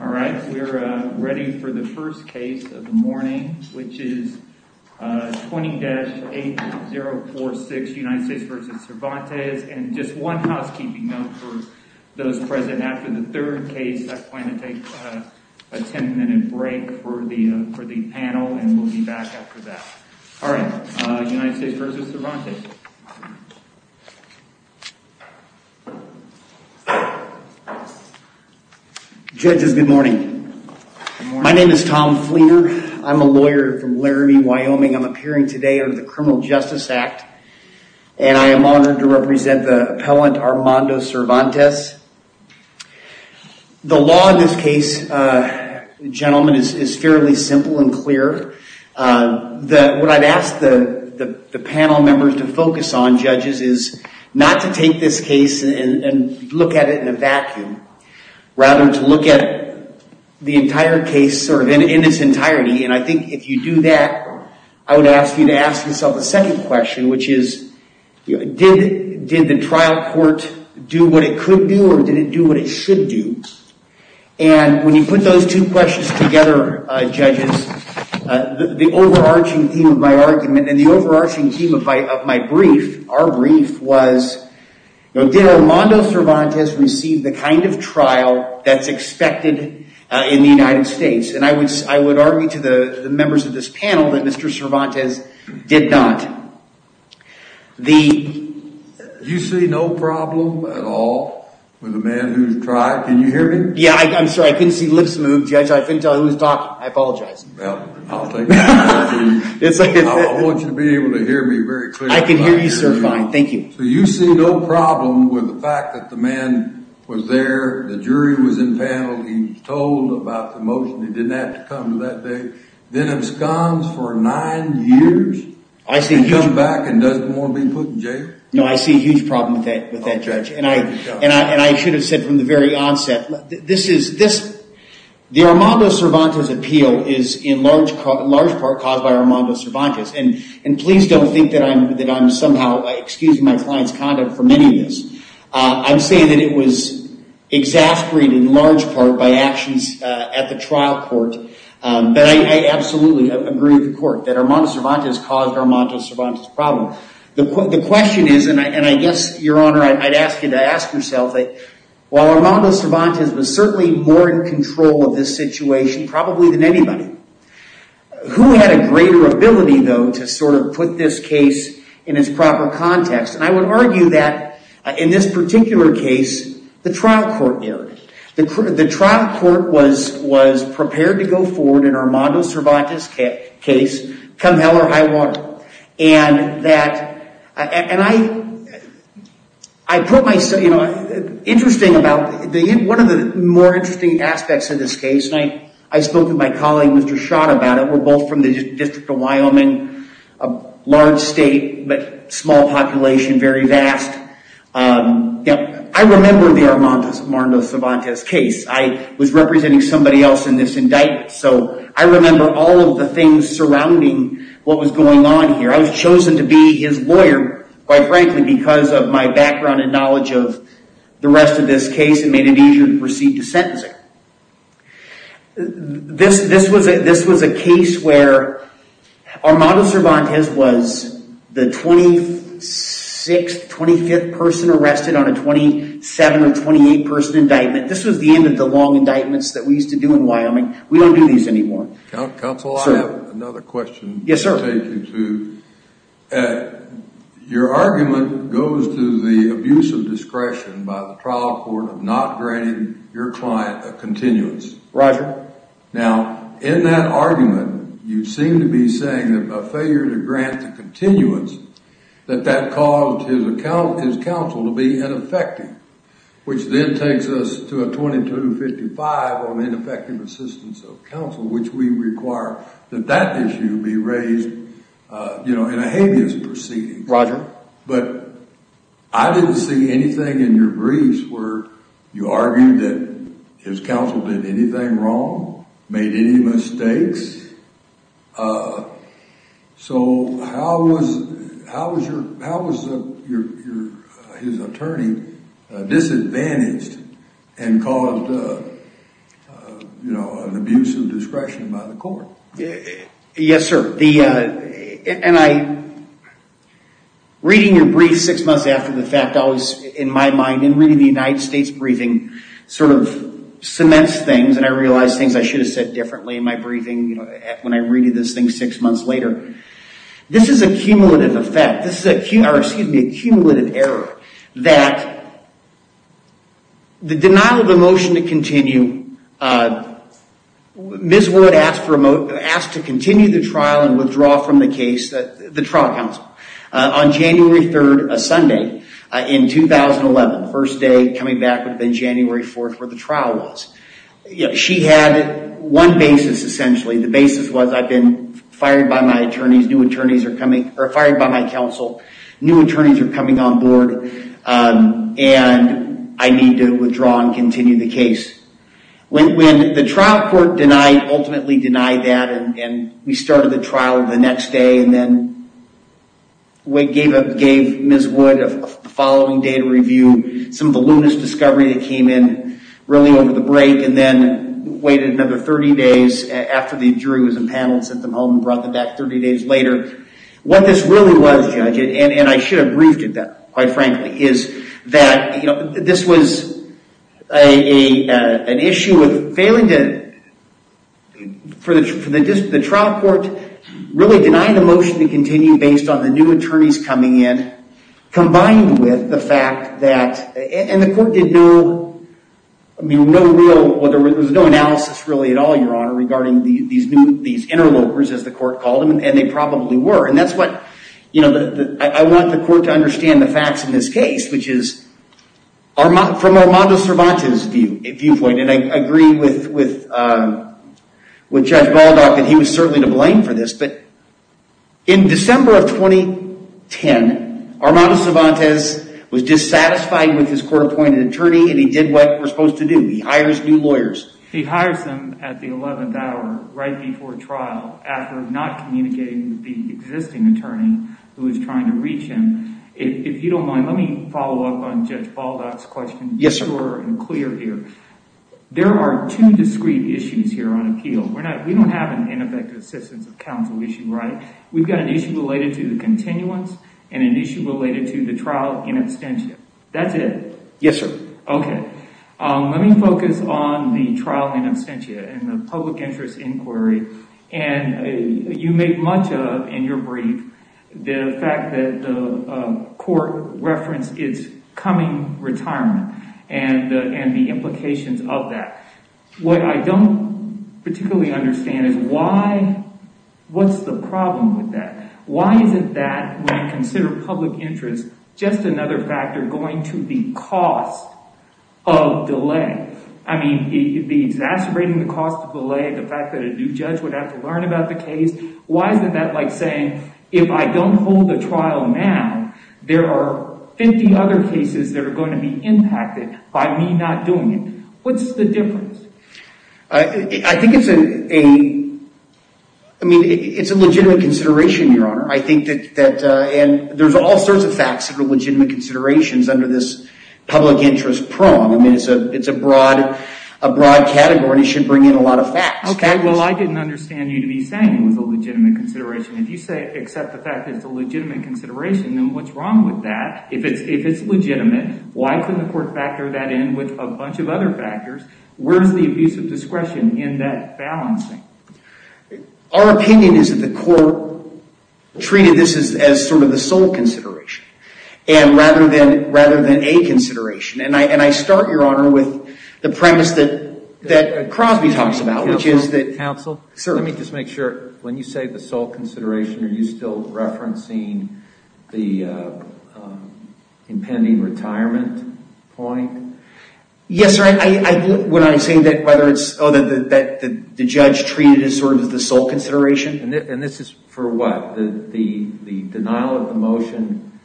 Alright, we are ready for the first case of the morning, which is 20-8046 United States v. Cervantes And just one housekeeping note for those present, after the third case, I plan to take a 10 minute break for the panel And we'll be back after that Judges, good morning My name is Tom Fleener, I'm a lawyer from Laramie, Wyoming I'm appearing today under the Criminal Justice Act And I am honored to represent the appellant Armando Cervantes The law in this case, gentlemen, is fairly simple and clear What I've asked the panel members to focus on, judges, is not to take this case and look at it in a vacuum Rather to look at the entire case in its entirety And I think if you do that, I would ask you to ask yourself a second question Which is, did the trial court do what it could do or did it do what it should do? And when you put those two questions together, judges, the overarching theme of my argument And the overarching theme of my brief, our brief, was Did Armando Cervantes receive the kind of trial that's expected in the United States? And I would argue to the members of this panel that Mr. Cervantes did not You see no problem at all with the man who's tried, can you hear me? Yeah, I'm sorry, I couldn't see lips move, judge, I couldn't tell who was talking, I apologize Well, I'll take that as a yes I want you to be able to hear me very clearly I can hear you sir, fine, thank you So you see no problem with the fact that the man was there, the jury was in panel He was told about the motion, he didn't have to come to that day Then absconds for nine years, and comes back and doesn't want to be put in jail? No, I see a huge problem with that, judge And I should have said from the very onset The Armando Cervantes appeal is in large part caused by Armando Cervantes And please don't think that I'm somehow excusing my client's conduct for many of this I'm saying that it was exasperated in large part by actions at the trial court But I absolutely agree with the court that Armando Cervantes caused Armando Cervantes' problem The question is, and I guess, your honor, I'd ask you to ask yourself While Armando Cervantes was certainly more in control of this situation, probably than anybody Who had a greater ability, though, to sort of put this case in its proper context? And I would argue that in this particular case, the trial court did The trial court was prepared to go forward in Armando Cervantes' case, come hell or high water And I put myself, you know, interesting about, one of the more interesting aspects of this case And I spoke with my colleague, Mr. Schott, about it We're both from the District of Wyoming, a large state, but small population, very vast I remember the Armando Cervantes case I was representing somebody else in this indictment So I remember all of the things surrounding what was going on here I was chosen to be his lawyer, quite frankly, because of my background and knowledge of the rest of this case And made it easier to proceed to sentencing This was a case where Armando Cervantes was the 26th, 25th person arrested on a 27 or 28 person indictment This was the end of the long indictments that we used to do in Wyoming We don't do these anymore Counsel, I have another question to take you to Your argument goes to the abuse of discretion by the trial court of not granting your client a continuance Roger Now, in that argument, you seem to be saying that by failure to grant the continuance That that caused his counsel to be ineffective Which then takes us to a 2255 on ineffective assistance of counsel Which we require that that issue be raised in a habeas proceeding Roger But I didn't see anything in your briefs where you argued that his counsel did anything wrong Made any mistakes So how was his attorney disadvantaged and caused an abuse of discretion by the court? Yes, sir And reading your brief six months after the fact, in my mind And reading the United States briefing sort of cements things And I realized things I should have said differently in my briefing when I read this thing six months later This is a cumulative effect This is a cumulative error That the denial of a motion to continue Ms. Wood asked to continue the trial and withdraw from the case The trial counsel On January 3rd, a Sunday in 2011 First day coming back would have been January 4th where the trial was She had one basis essentially The basis was I've been fired by my attorneys New attorneys are coming Or fired by my counsel New attorneys are coming on board And I need to withdraw and continue the case When the trial court denied Ultimately denied that And we started the trial the next day And then gave Ms. Wood the following day to review Some of the luminous discovery that came in really over the break And then waited another 30 days after the jury was impaneled Sent them home and brought them back 30 days later What this really was, Judge And I should have briefed it then, quite frankly Is that this was an issue of failing to For the trial court really denying the motion to continue Based on the new attorneys coming in And the court did no real There was no analysis really at all, your honor Regarding these interlopers as the court called them And they probably were And that's what I want the court to understand the facts in this case Which is from Armando Cervantes' viewpoint And I agree with Judge Baldock That he was certainly to blame for this But in December of 2010 Armando Cervantes was dissatisfied with his court-appointed attorney And he did what we're supposed to do He hires new lawyers He hires them at the 11th hour right before trial After not communicating with the existing attorney Who was trying to reach him If you don't mind, let me follow up on Judge Baldock's question Sure and clear here There are two discrete issues here on appeal We don't have an ineffective assistance of counsel issue, right? We've got an issue related to the continuance And an issue related to the trial in absentia That's it? Yes, sir Okay Let me focus on the trial in absentia And the public interest inquiry And you make much of in your brief The fact that the court referenced its coming retirement And the implications of that What I don't particularly understand is why What's the problem with that? Why isn't that when I consider public interest Just another factor going to the cost of delay? I mean, the exacerbating the cost of delay The fact that a new judge would have to learn about the case Why isn't that like saying If I don't hold the trial now There are 50 other cases that are going to be impacted By me not doing it What's the difference? I think it's a I mean, it's a legitimate consideration, your honor I think that There's all sorts of facts that are legitimate considerations Under this public interest prong I mean, it's a broad category And it should bring in a lot of facts Okay, well, I didn't understand you to be saying It was a legitimate consideration If you accept the fact that it's a legitimate consideration Then what's wrong with that? If it's legitimate Why couldn't the court factor that in With a bunch of other factors? Where's the abuse of discretion in that balancing? Our opinion is that the court Treated this as sort of the sole consideration And rather than a consideration And I start, your honor, with The premise that Crosby talks about Which is that Counsel, let me just make sure When you say the sole consideration Are you still referencing The impending retirement point? Yes, sir, when I say that Whether it's that the judge Treated it as sort of the sole consideration And this is for what? The denial of the motion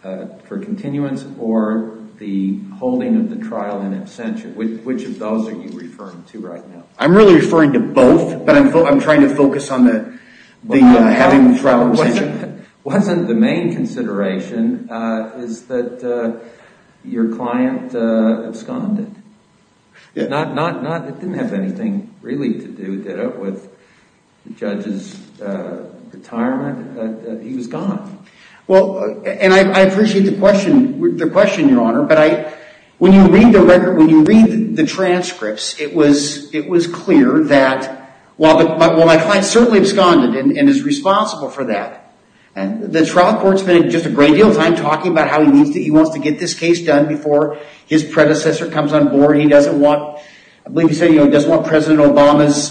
for continuance Or the holding of the trial in absentia Which of those are you referring to right now? I'm really referring to both But I'm trying to focus on the Having the trial in absentia Wasn't the main consideration Is that your client absconded It didn't have anything really to do With the judge's retirement He was gone And I appreciate the question, your honor But when you read the transcripts It was clear that While my client certainly absconded And is responsible for that The trial court spent just a great deal of time Talking about how he wants to get this case done Before his predecessor comes on board He doesn't want I believe he said he doesn't want President Obama's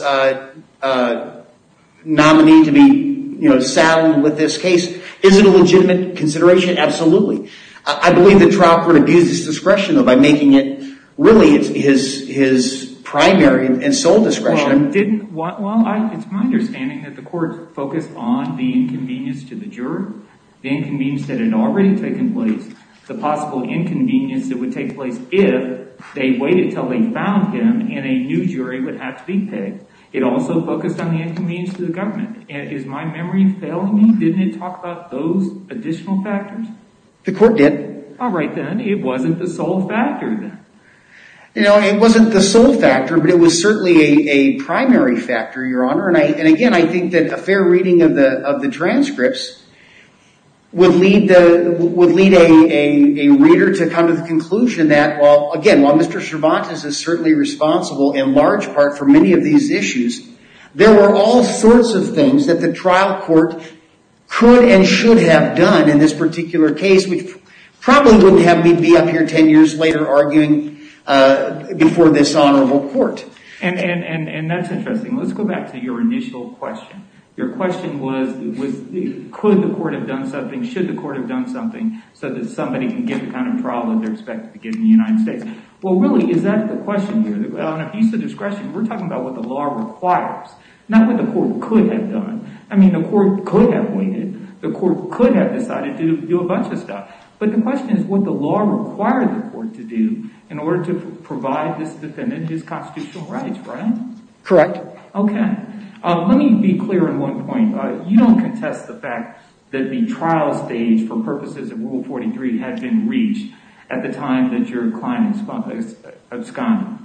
nominee To be saddled with this case Is it a legitimate consideration? Absolutely I believe the trial court abused his discretion By making it really his primary And sole discretion Well, it's my understanding That the court focused on The inconvenience to the jury The inconvenience that had already taken place The possible inconvenience that would take place If they waited until they found him And a new jury would have to be picked It also focused on the inconvenience to the government Is my memory failing me? Didn't it talk about those additional factors? The court did All right, then It wasn't the sole factor But it was certainly a primary factor, your honor And again, I think that A fair reading of the transcripts Would lead a reader To come to the conclusion that Again, while Mr. Cervantes is certainly responsible In large part for many of these issues There were all sorts of things That the trial court Could and should have done In this particular case Which probably wouldn't have me be up here Ten years later arguing Before this honorable court And that's interesting Let's go back to your initial question Your question was Could the court have done something? Should the court have done something? So that somebody can get the kind of trial That they're expected to get in the United States Well, really, is that the question here? On a piece of discretion We're talking about what the law requires Not what the court could have done I mean, the court could have waited The court could have decided to do a bunch of stuff But the question is What the law required the court to do In order to provide this defendant His constitutional rights, right? Correct Okay Let me be clear on one point You don't contest the fact That the trial stage For purposes of Rule 43 Had been reached At the time that your client absconded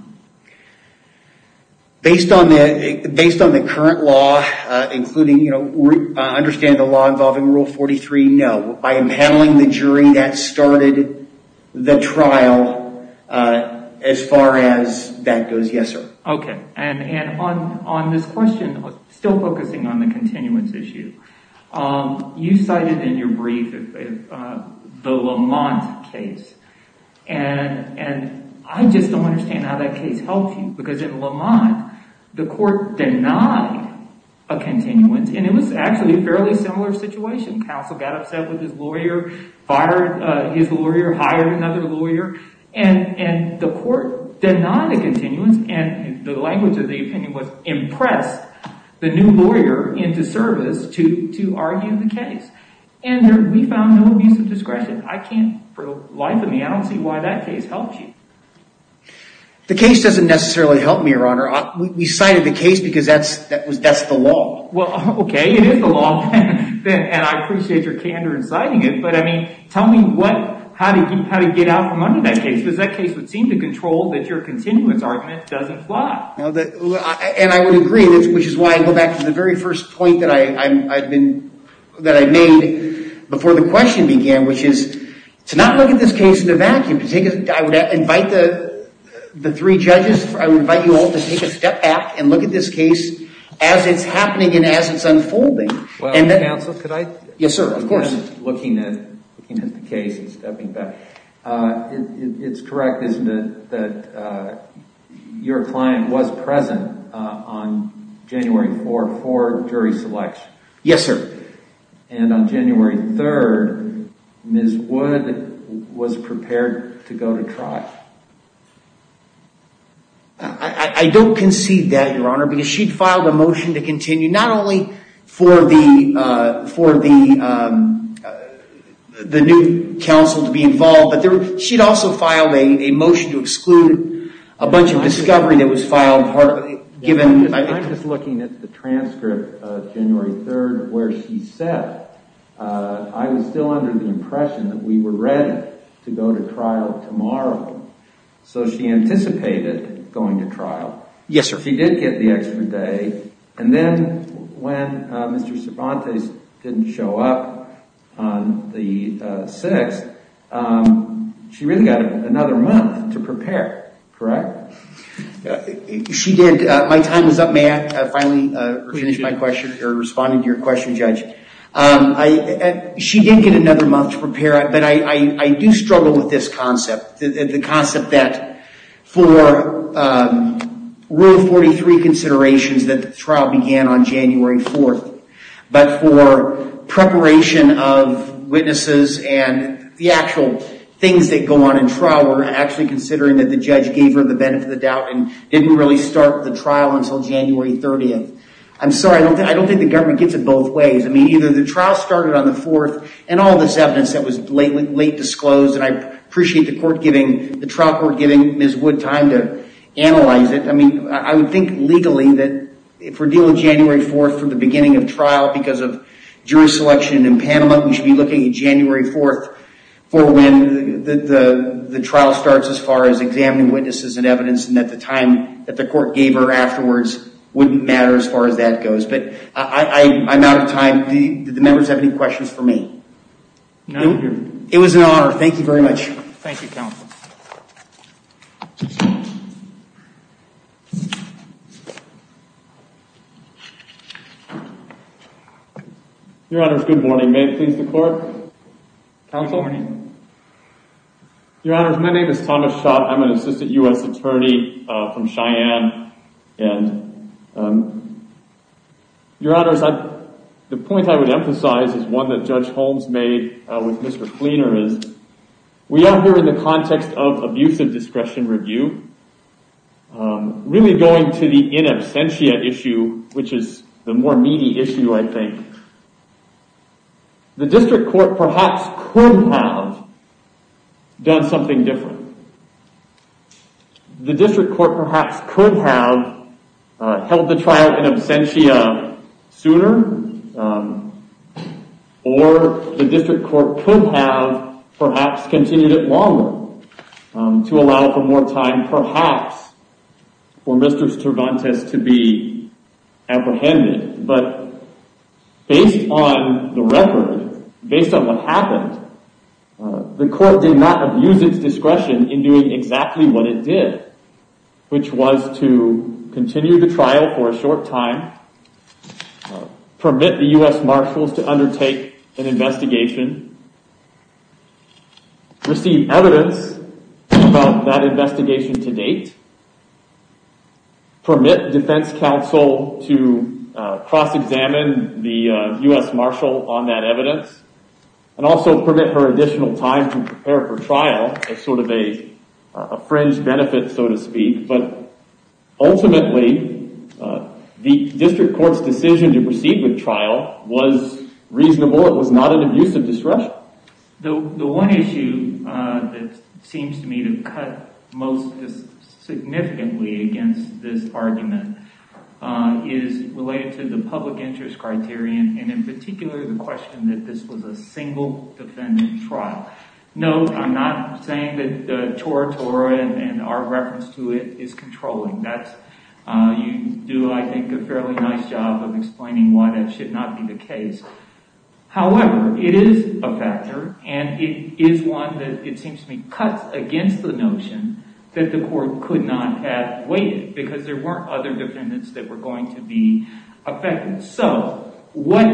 Based on the current law Including, you know I understand the law involving Rule 43 No By impounding the jury That started the trial As far as that goes, yes, sir Okay And on this question Still focusing on the continuance issue You cited in your brief The Lamont case And I just don't understand How that case helped you Because in Lamont The court denied a continuance And it was actually A fairly similar situation Counsel got upset with his lawyer Fired his lawyer Hired another lawyer And the court denied a continuance And the language of the opinion was Impressed the new lawyer into service To argue the case And we found no abuse of discretion I can't For the life of me I don't see why that case helped you The case doesn't necessarily help me, Your Honor We cited the case Because that's the law Well, okay It is the law And I appreciate your candor in citing it But, I mean Tell me what How did you get out from under that case? Because that case would seem to control That your continuance argument doesn't fly And I would agree Which is why I go back To the very first point That I made Before the question began Which is To not look at this case in a vacuum I would invite the three judges I would invite you all To take a step back And look at this case As it's happening And as it's unfolding Counsel, could I Yes, sir, of course Looking at the case And stepping back It's correct, isn't it That your client was present On January 4th For jury selection Yes, sir And on January 3rd Ms. Wood was prepared to go to trial I don't concede that, Your Honor Because she'd filed a motion to continue Not only for the The new counsel to be involved But she'd also filed a motion To exclude a bunch of discovery That was filed Given I'm just looking at the transcript Of January 3rd Where she said I was still under the impression That we were ready To go to trial tomorrow So she anticipated going to trial Yes, sir She did get the extra day And then when Mr. Cervantes Didn't show up on the 6th She really got another month To prepare, correct? She did My time is up May I finally finish my question Or respond to your question, Judge She did get another month to prepare But I do struggle with this concept The concept that For Rule 43 considerations That the trial began on January 4th But for preparation of witnesses And the actual things that go on in trial We're actually considering That the judge gave her The benefit of the doubt And didn't really start the trial Until January 30th I'm sorry I don't think the government Gets it both ways I mean, either the trial Started on the 4th And all this evidence That was late disclosed And I appreciate the court giving The trial court giving Ms. Wood time to analyze it I mean, I would think legally That if we're dealing with January 4th From the beginning of trial Because of jury selection in Panama We should be looking at January 4th For when the trial starts As far as examining witnesses And evidence And at the time that the court gave her Afterwards Wouldn't matter as far as that goes But I'm out of time Did the members have any questions for me? No, we're good It was an honor Thank you very much Thank you, Counsel Your Honors, good morning May it please the court Counsel Good morning Your Honors My name is Thomas Schott I'm an assistant U.S. attorney From Cheyenne And Your Honors The point I would emphasize Is one that Judge Holmes made With Mr. Kleener Is we are here in the context Of abusive discretion review Really going to the in absentia issue Which is the more meaty issue, I think The district court perhaps Could have Done something different The district court perhaps Could have Held the trial in absentia Sooner Or the district court could have Perhaps continued it longer To allow for more time Perhaps For Mr. Cervantes to be Apprehended But Based on the record Based on what happened The court did not abuse its discretion In doing exactly what it did Which was to continue the trial For a short time Permit the U.S. Marshals To undertake an investigation Receive evidence About that investigation to date Permit defense counsel To cross examine The U.S. Marshal on that evidence And also permit her additional time To prepare for trial As sort of a fringe benefit So to speak But ultimately The district court's decision To proceed with trial Was reasonable It was not an abusive discretion The one issue That seems to me to cut Most significantly Against this argument Is related to the public interest criterion And in particular the question That this was a single defendant trial No, I'm not saying that Toratora and our reference to it Is controlling You do, I think, a fairly nice job Of explaining why that should not be the case However, it is a factor And it is one that it seems to me Cuts against the notion That the court could not have waited Because there weren't other defendants That were going to be affected So, what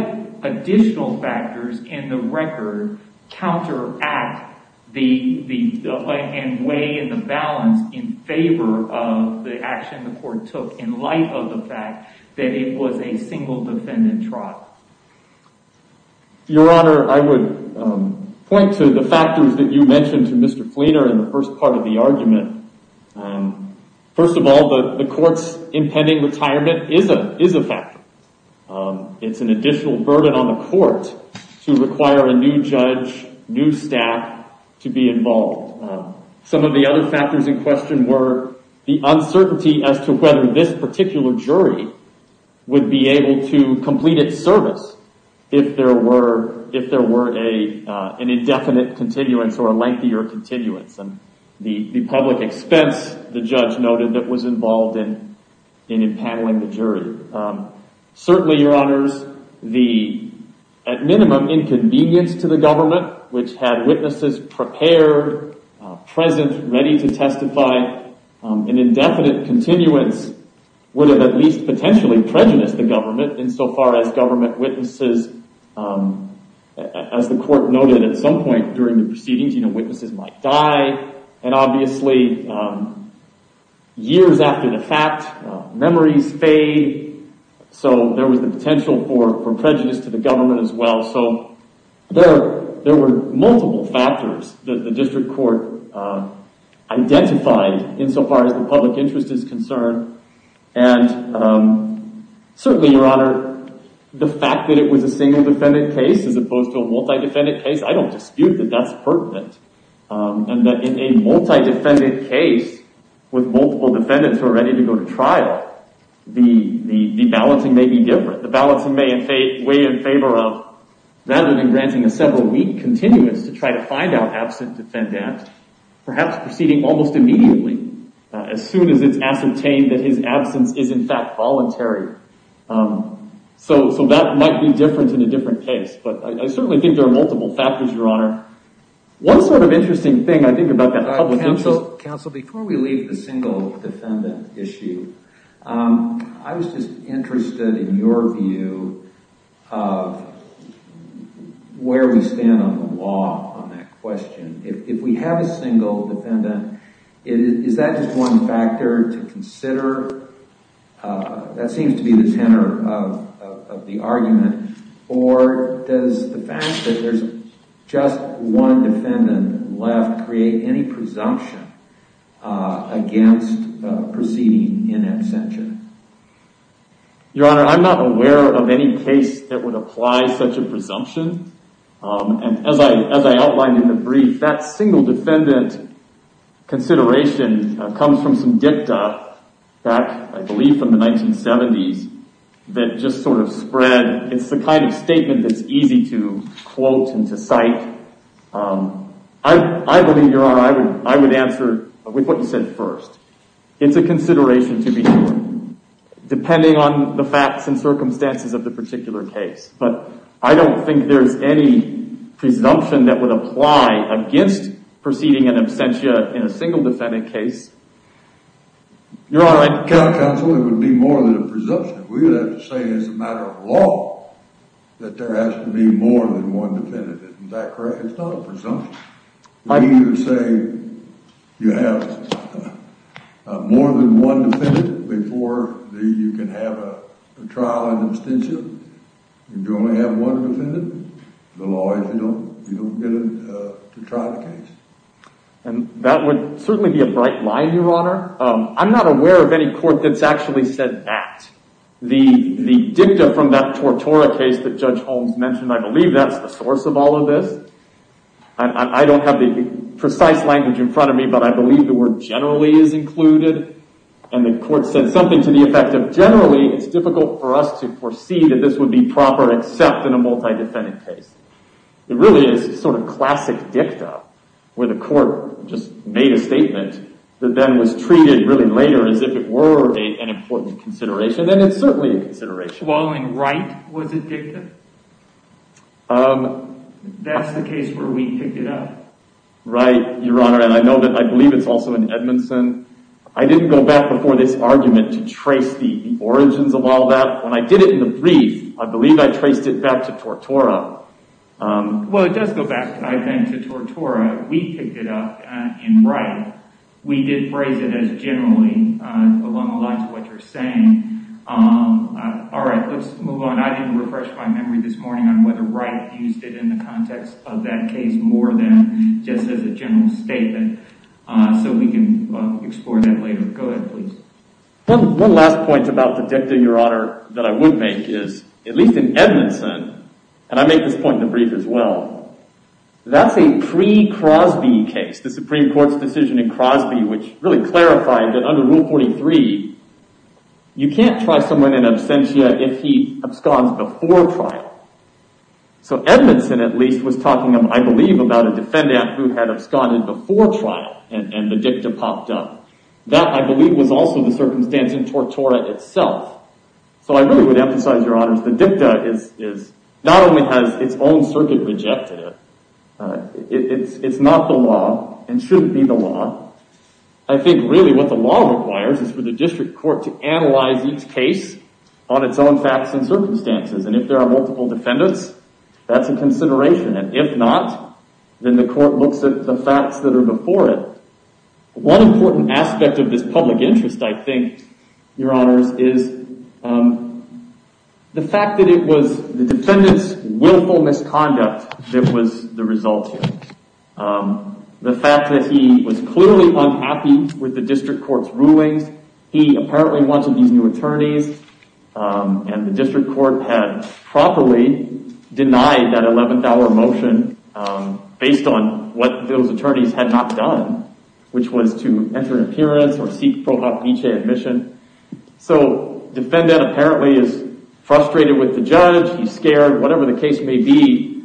additional factors In the record Counteract And weigh the balance In favor of the action The court took In light of the fact That it was a single defendant trial Your honor I would point to the factors That you mentioned to Mr. Fleener In the first part of the argument First of all The court's impending retirement Is a factor It's an additional burden on the court To require a new judge New staff To be involved Some of the other factors in question were The uncertainty as to whether This particular jury Would be able to complete its service If there were An indefinite continuance Or a lengthier continuance And the public expense The judge noted That was involved in In impaneling the jury Certainly, your honors The, at minimum Inconvenience to the government Which had witnesses prepared Present, ready to testify An indefinite continuance Would have at least potentially Prejudiced the government In so far as government witnesses As the court noted at some point During the proceedings You know, witnesses might die And obviously Years after the fact Memories fade So, there was the potential for Prejudice to the government as well So, there were multiple factors That the district court Identified in so far as The public interest is concerned And Certainly, your honor The fact that it was a single defendant case As opposed to a multi-defendant case I don't dispute that that's pertinent And that in a multi-defendant case With multiple defendants Who are ready to go to trial The balancing may be different The balancing may weigh in favor of Rather than granting a several week continuance To try to find out absent defendant Perhaps proceeding almost immediately As soon as it's ascertained That his absence is in fact voluntary So, that might be different In a different case But I certainly think There are multiple factors, your honor One sort of interesting thing I think about that The public interest is Counsel, before we leave The single defendant issue I was just interested in your view Of Where we stand on the law On that question If we have a single defendant Is that just one factor to consider? That seems to be the tenor Of the argument Or does the fact that There's just one defendant left Create any presumption Against proceeding in absentia? Your honor, I'm not aware of any case That would apply such a presumption And as I outlined in the brief That single defendant consideration Comes from some dicta Back, I believe, from the 1970s That just sort of spread It's the kind of statement That's easy to quote and to cite I believe, your honor I would answer with what you said first It's a consideration to be sure Depending on the facts and circumstances Of the particular case But I don't think there's any Presumption that would apply Against proceeding in absentia In a single defendant case Your honor, I Counsel, it would be more than a presumption We would have to say as a matter of law That there has to be more than one defendant Isn't that correct? It's not a presumption We would say you have More than one defendant Before you can have a trial in absentia And you only have one defendant The law is you don't get to try the case And that would certainly be A bright line, your honor I'm not aware of any court That's actually said that The dicta from that Tortora case That Judge Holmes mentioned I believe that's the source of all of this I don't have the precise language In front of me But I believe the word generally is included And the court said something To the effect of generally It's difficult for us to foresee That this would be proper Except in a multi-defendant case It really is sort of classic dicta Where the court just made a statement That then was treated really later As if it were an important consideration And it's certainly a consideration While in Wright was it dicta? That's the case where we picked it up Right, your honor And I know that I believe it's also in Edmondson I didn't go back before this argument To trace the origins of all that When I did it in the brief I believe I traced it back to Tortora Well, it does go back, I think, to Tortora We picked it up in Wright We did phrase it as generally Along the lines of what you're saying All right, let's move on I didn't refresh my memory this morning On whether Wright used it In the context of that case More than just as a general statement So we can explore that later Go ahead, please One last point about the dicta, your honor That I would make is At least in Edmondson And I make this point in the brief as well That's a pre-Crosby case The Supreme Court's decision in Crosby Which really clarified that under Rule 43 You can't try someone in absentia If he absconds before trial So Edmondson, at least, was talking I believe, about a defendant Who had absconded before trial And the dicta popped up That, I believe, was also the circumstance In Tortora itself So I really would emphasize, your honors The dicta is Not only has its own circuit rejected it It's not the law And shouldn't be the law I think, really, what the law requires Is for the district court To analyze each case On its own facts and circumstances And if there are multiple defendants That's a consideration And if not Then the court looks at the facts That are before it One important aspect of this public interest I think, your honors Is the fact that it was The defendant's willful misconduct That was the result here The fact that he was clearly unhappy With the district court's rulings He apparently wanted these new attorneys And the district court had properly Denied that 11th hour motion Based on what those attorneys had not done Which was to enter an appearance Or seek pro hoc vicee admission So the defendant, apparently Is frustrated with the judge He's scared, whatever the case may be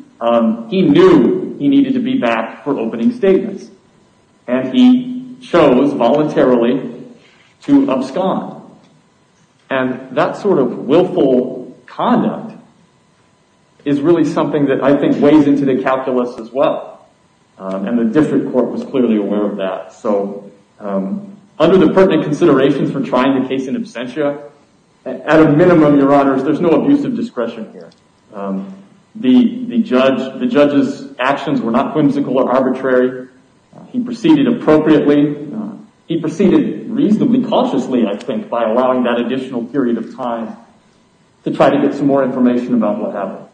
He knew he needed to be back For opening statements And he chose, voluntarily To abscond And that sort of willful conduct Is really something that I think Weighs into the calculus as well And the district court was clearly aware of that For trying the case in absentia At a minimum, your honors There's no abusive discretion here The judge's actions were not Whimsical or arbitrary He proceeded appropriately He proceeded reasonably cautiously, I think By allowing that additional period of time To try to get some more information About what happened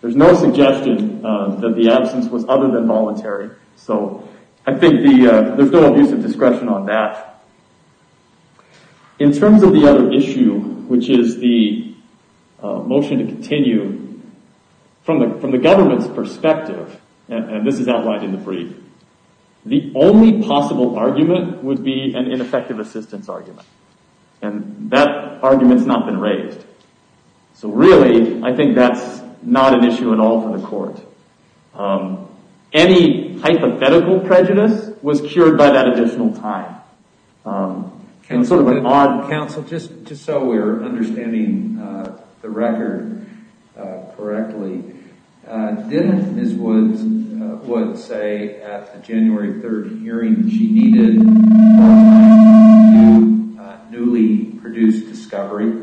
There's no suggestion that the absence Was other than voluntary So I think there's no abusive discretion on that In terms of the other issue Which is the motion to continue From the government's perspective And this is outlined in the brief The only possible argument Would be an ineffective assistance argument And that argument's not been raised So really, I think that's Not an issue at all for the court Any hypothetical prejudice Was cured by that additional time Counsel, just so we're understanding The record correctly Didn't Ms. Woods say At the January 3rd hearing She needed to newly produce discovery?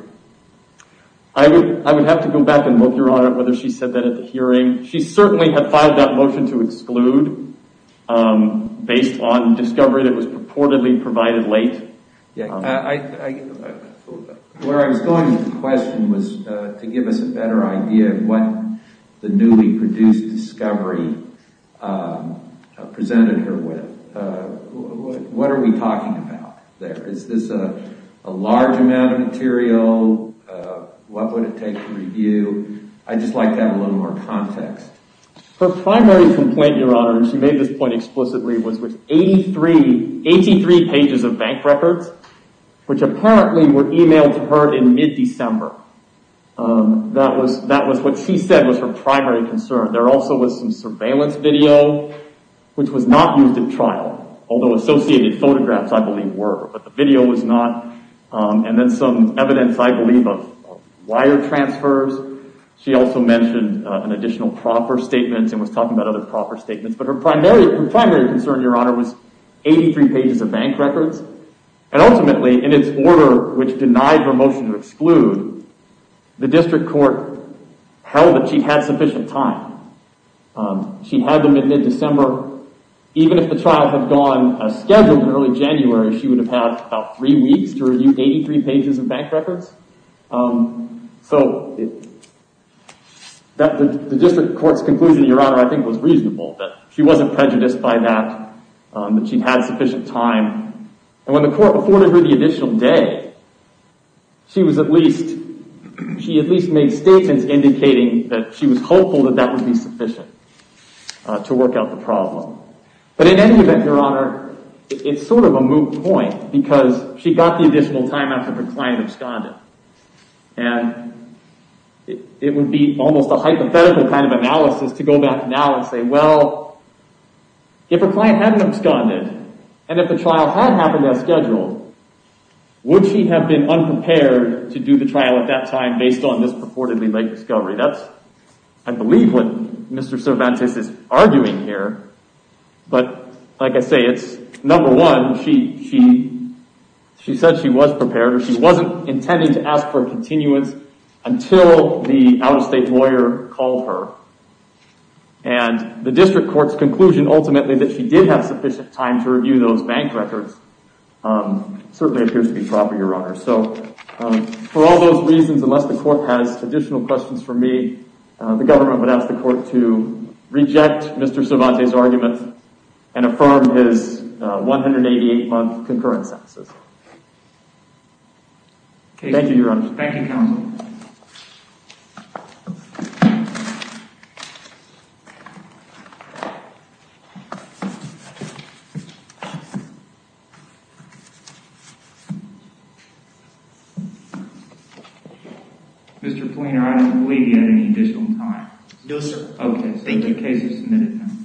I would have to go back and look, your honor Whether she said that at the hearing She certainly had filed that motion to exclude Based on discovery That was purportedly provided late Where I was going with the question Was to give us a better idea Of what the newly produced discovery Presented her with What are we talking about there? Is this a large amount of material? What would it take to review? I'd just like to have a little more context Her primary complaint, your honor And she made this point explicitly Was with 83 pages of bank records Which apparently were emailed to her In mid-December That was what she said Was her primary concern There also was some surveillance video Which was not used at trial Although associated photographs, I believe, were But the video was not And then some evidence, I believe Of wire transfers She also mentioned an additional proper statement And was talking about other proper statements But her primary concern, your honor Was 83 pages of bank records And ultimately, in its order Which denied her motion to exclude The district court Held that she had sufficient time She had them in mid-December Even if the trial had gone as scheduled In early January She would have had about three weeks To review 83 pages of bank records So The district court's conclusion, your honor I think was reasonable That she wasn't prejudiced by that That she'd had sufficient time And when the court afforded her the additional day She was at least She at least made statements Indicating that she was hopeful That that would be sufficient To work out the problem But in any event, your honor It's sort of a moot point Because she got the additional time After her client absconded And It would be almost a hypothetical kind of analysis To go back now and say, well If her client hadn't absconded And if the trial had happened as scheduled Would she have been unprepared To do the trial at that time Based on this purportedly late discovery That's, I believe, what Mr. Cervantes is arguing here But, like I say, it's Number one, she She said she was prepared Or she wasn't intending to ask for a continuance Until the out-of-state lawyer called her And the district court's conclusion ultimately That she did have sufficient time To review those bank records Certainly appears to be proper, your honor So, for all those reasons Unless the court has additional questions for me The government would ask the court to Reject Mr. Cervantes' argument 188-month concurrent sentences Thank you, your honor Thank you, counsel Thank you Mr. Fleener, I don't believe you had any additional time No, sir Okay, so the case is submitted then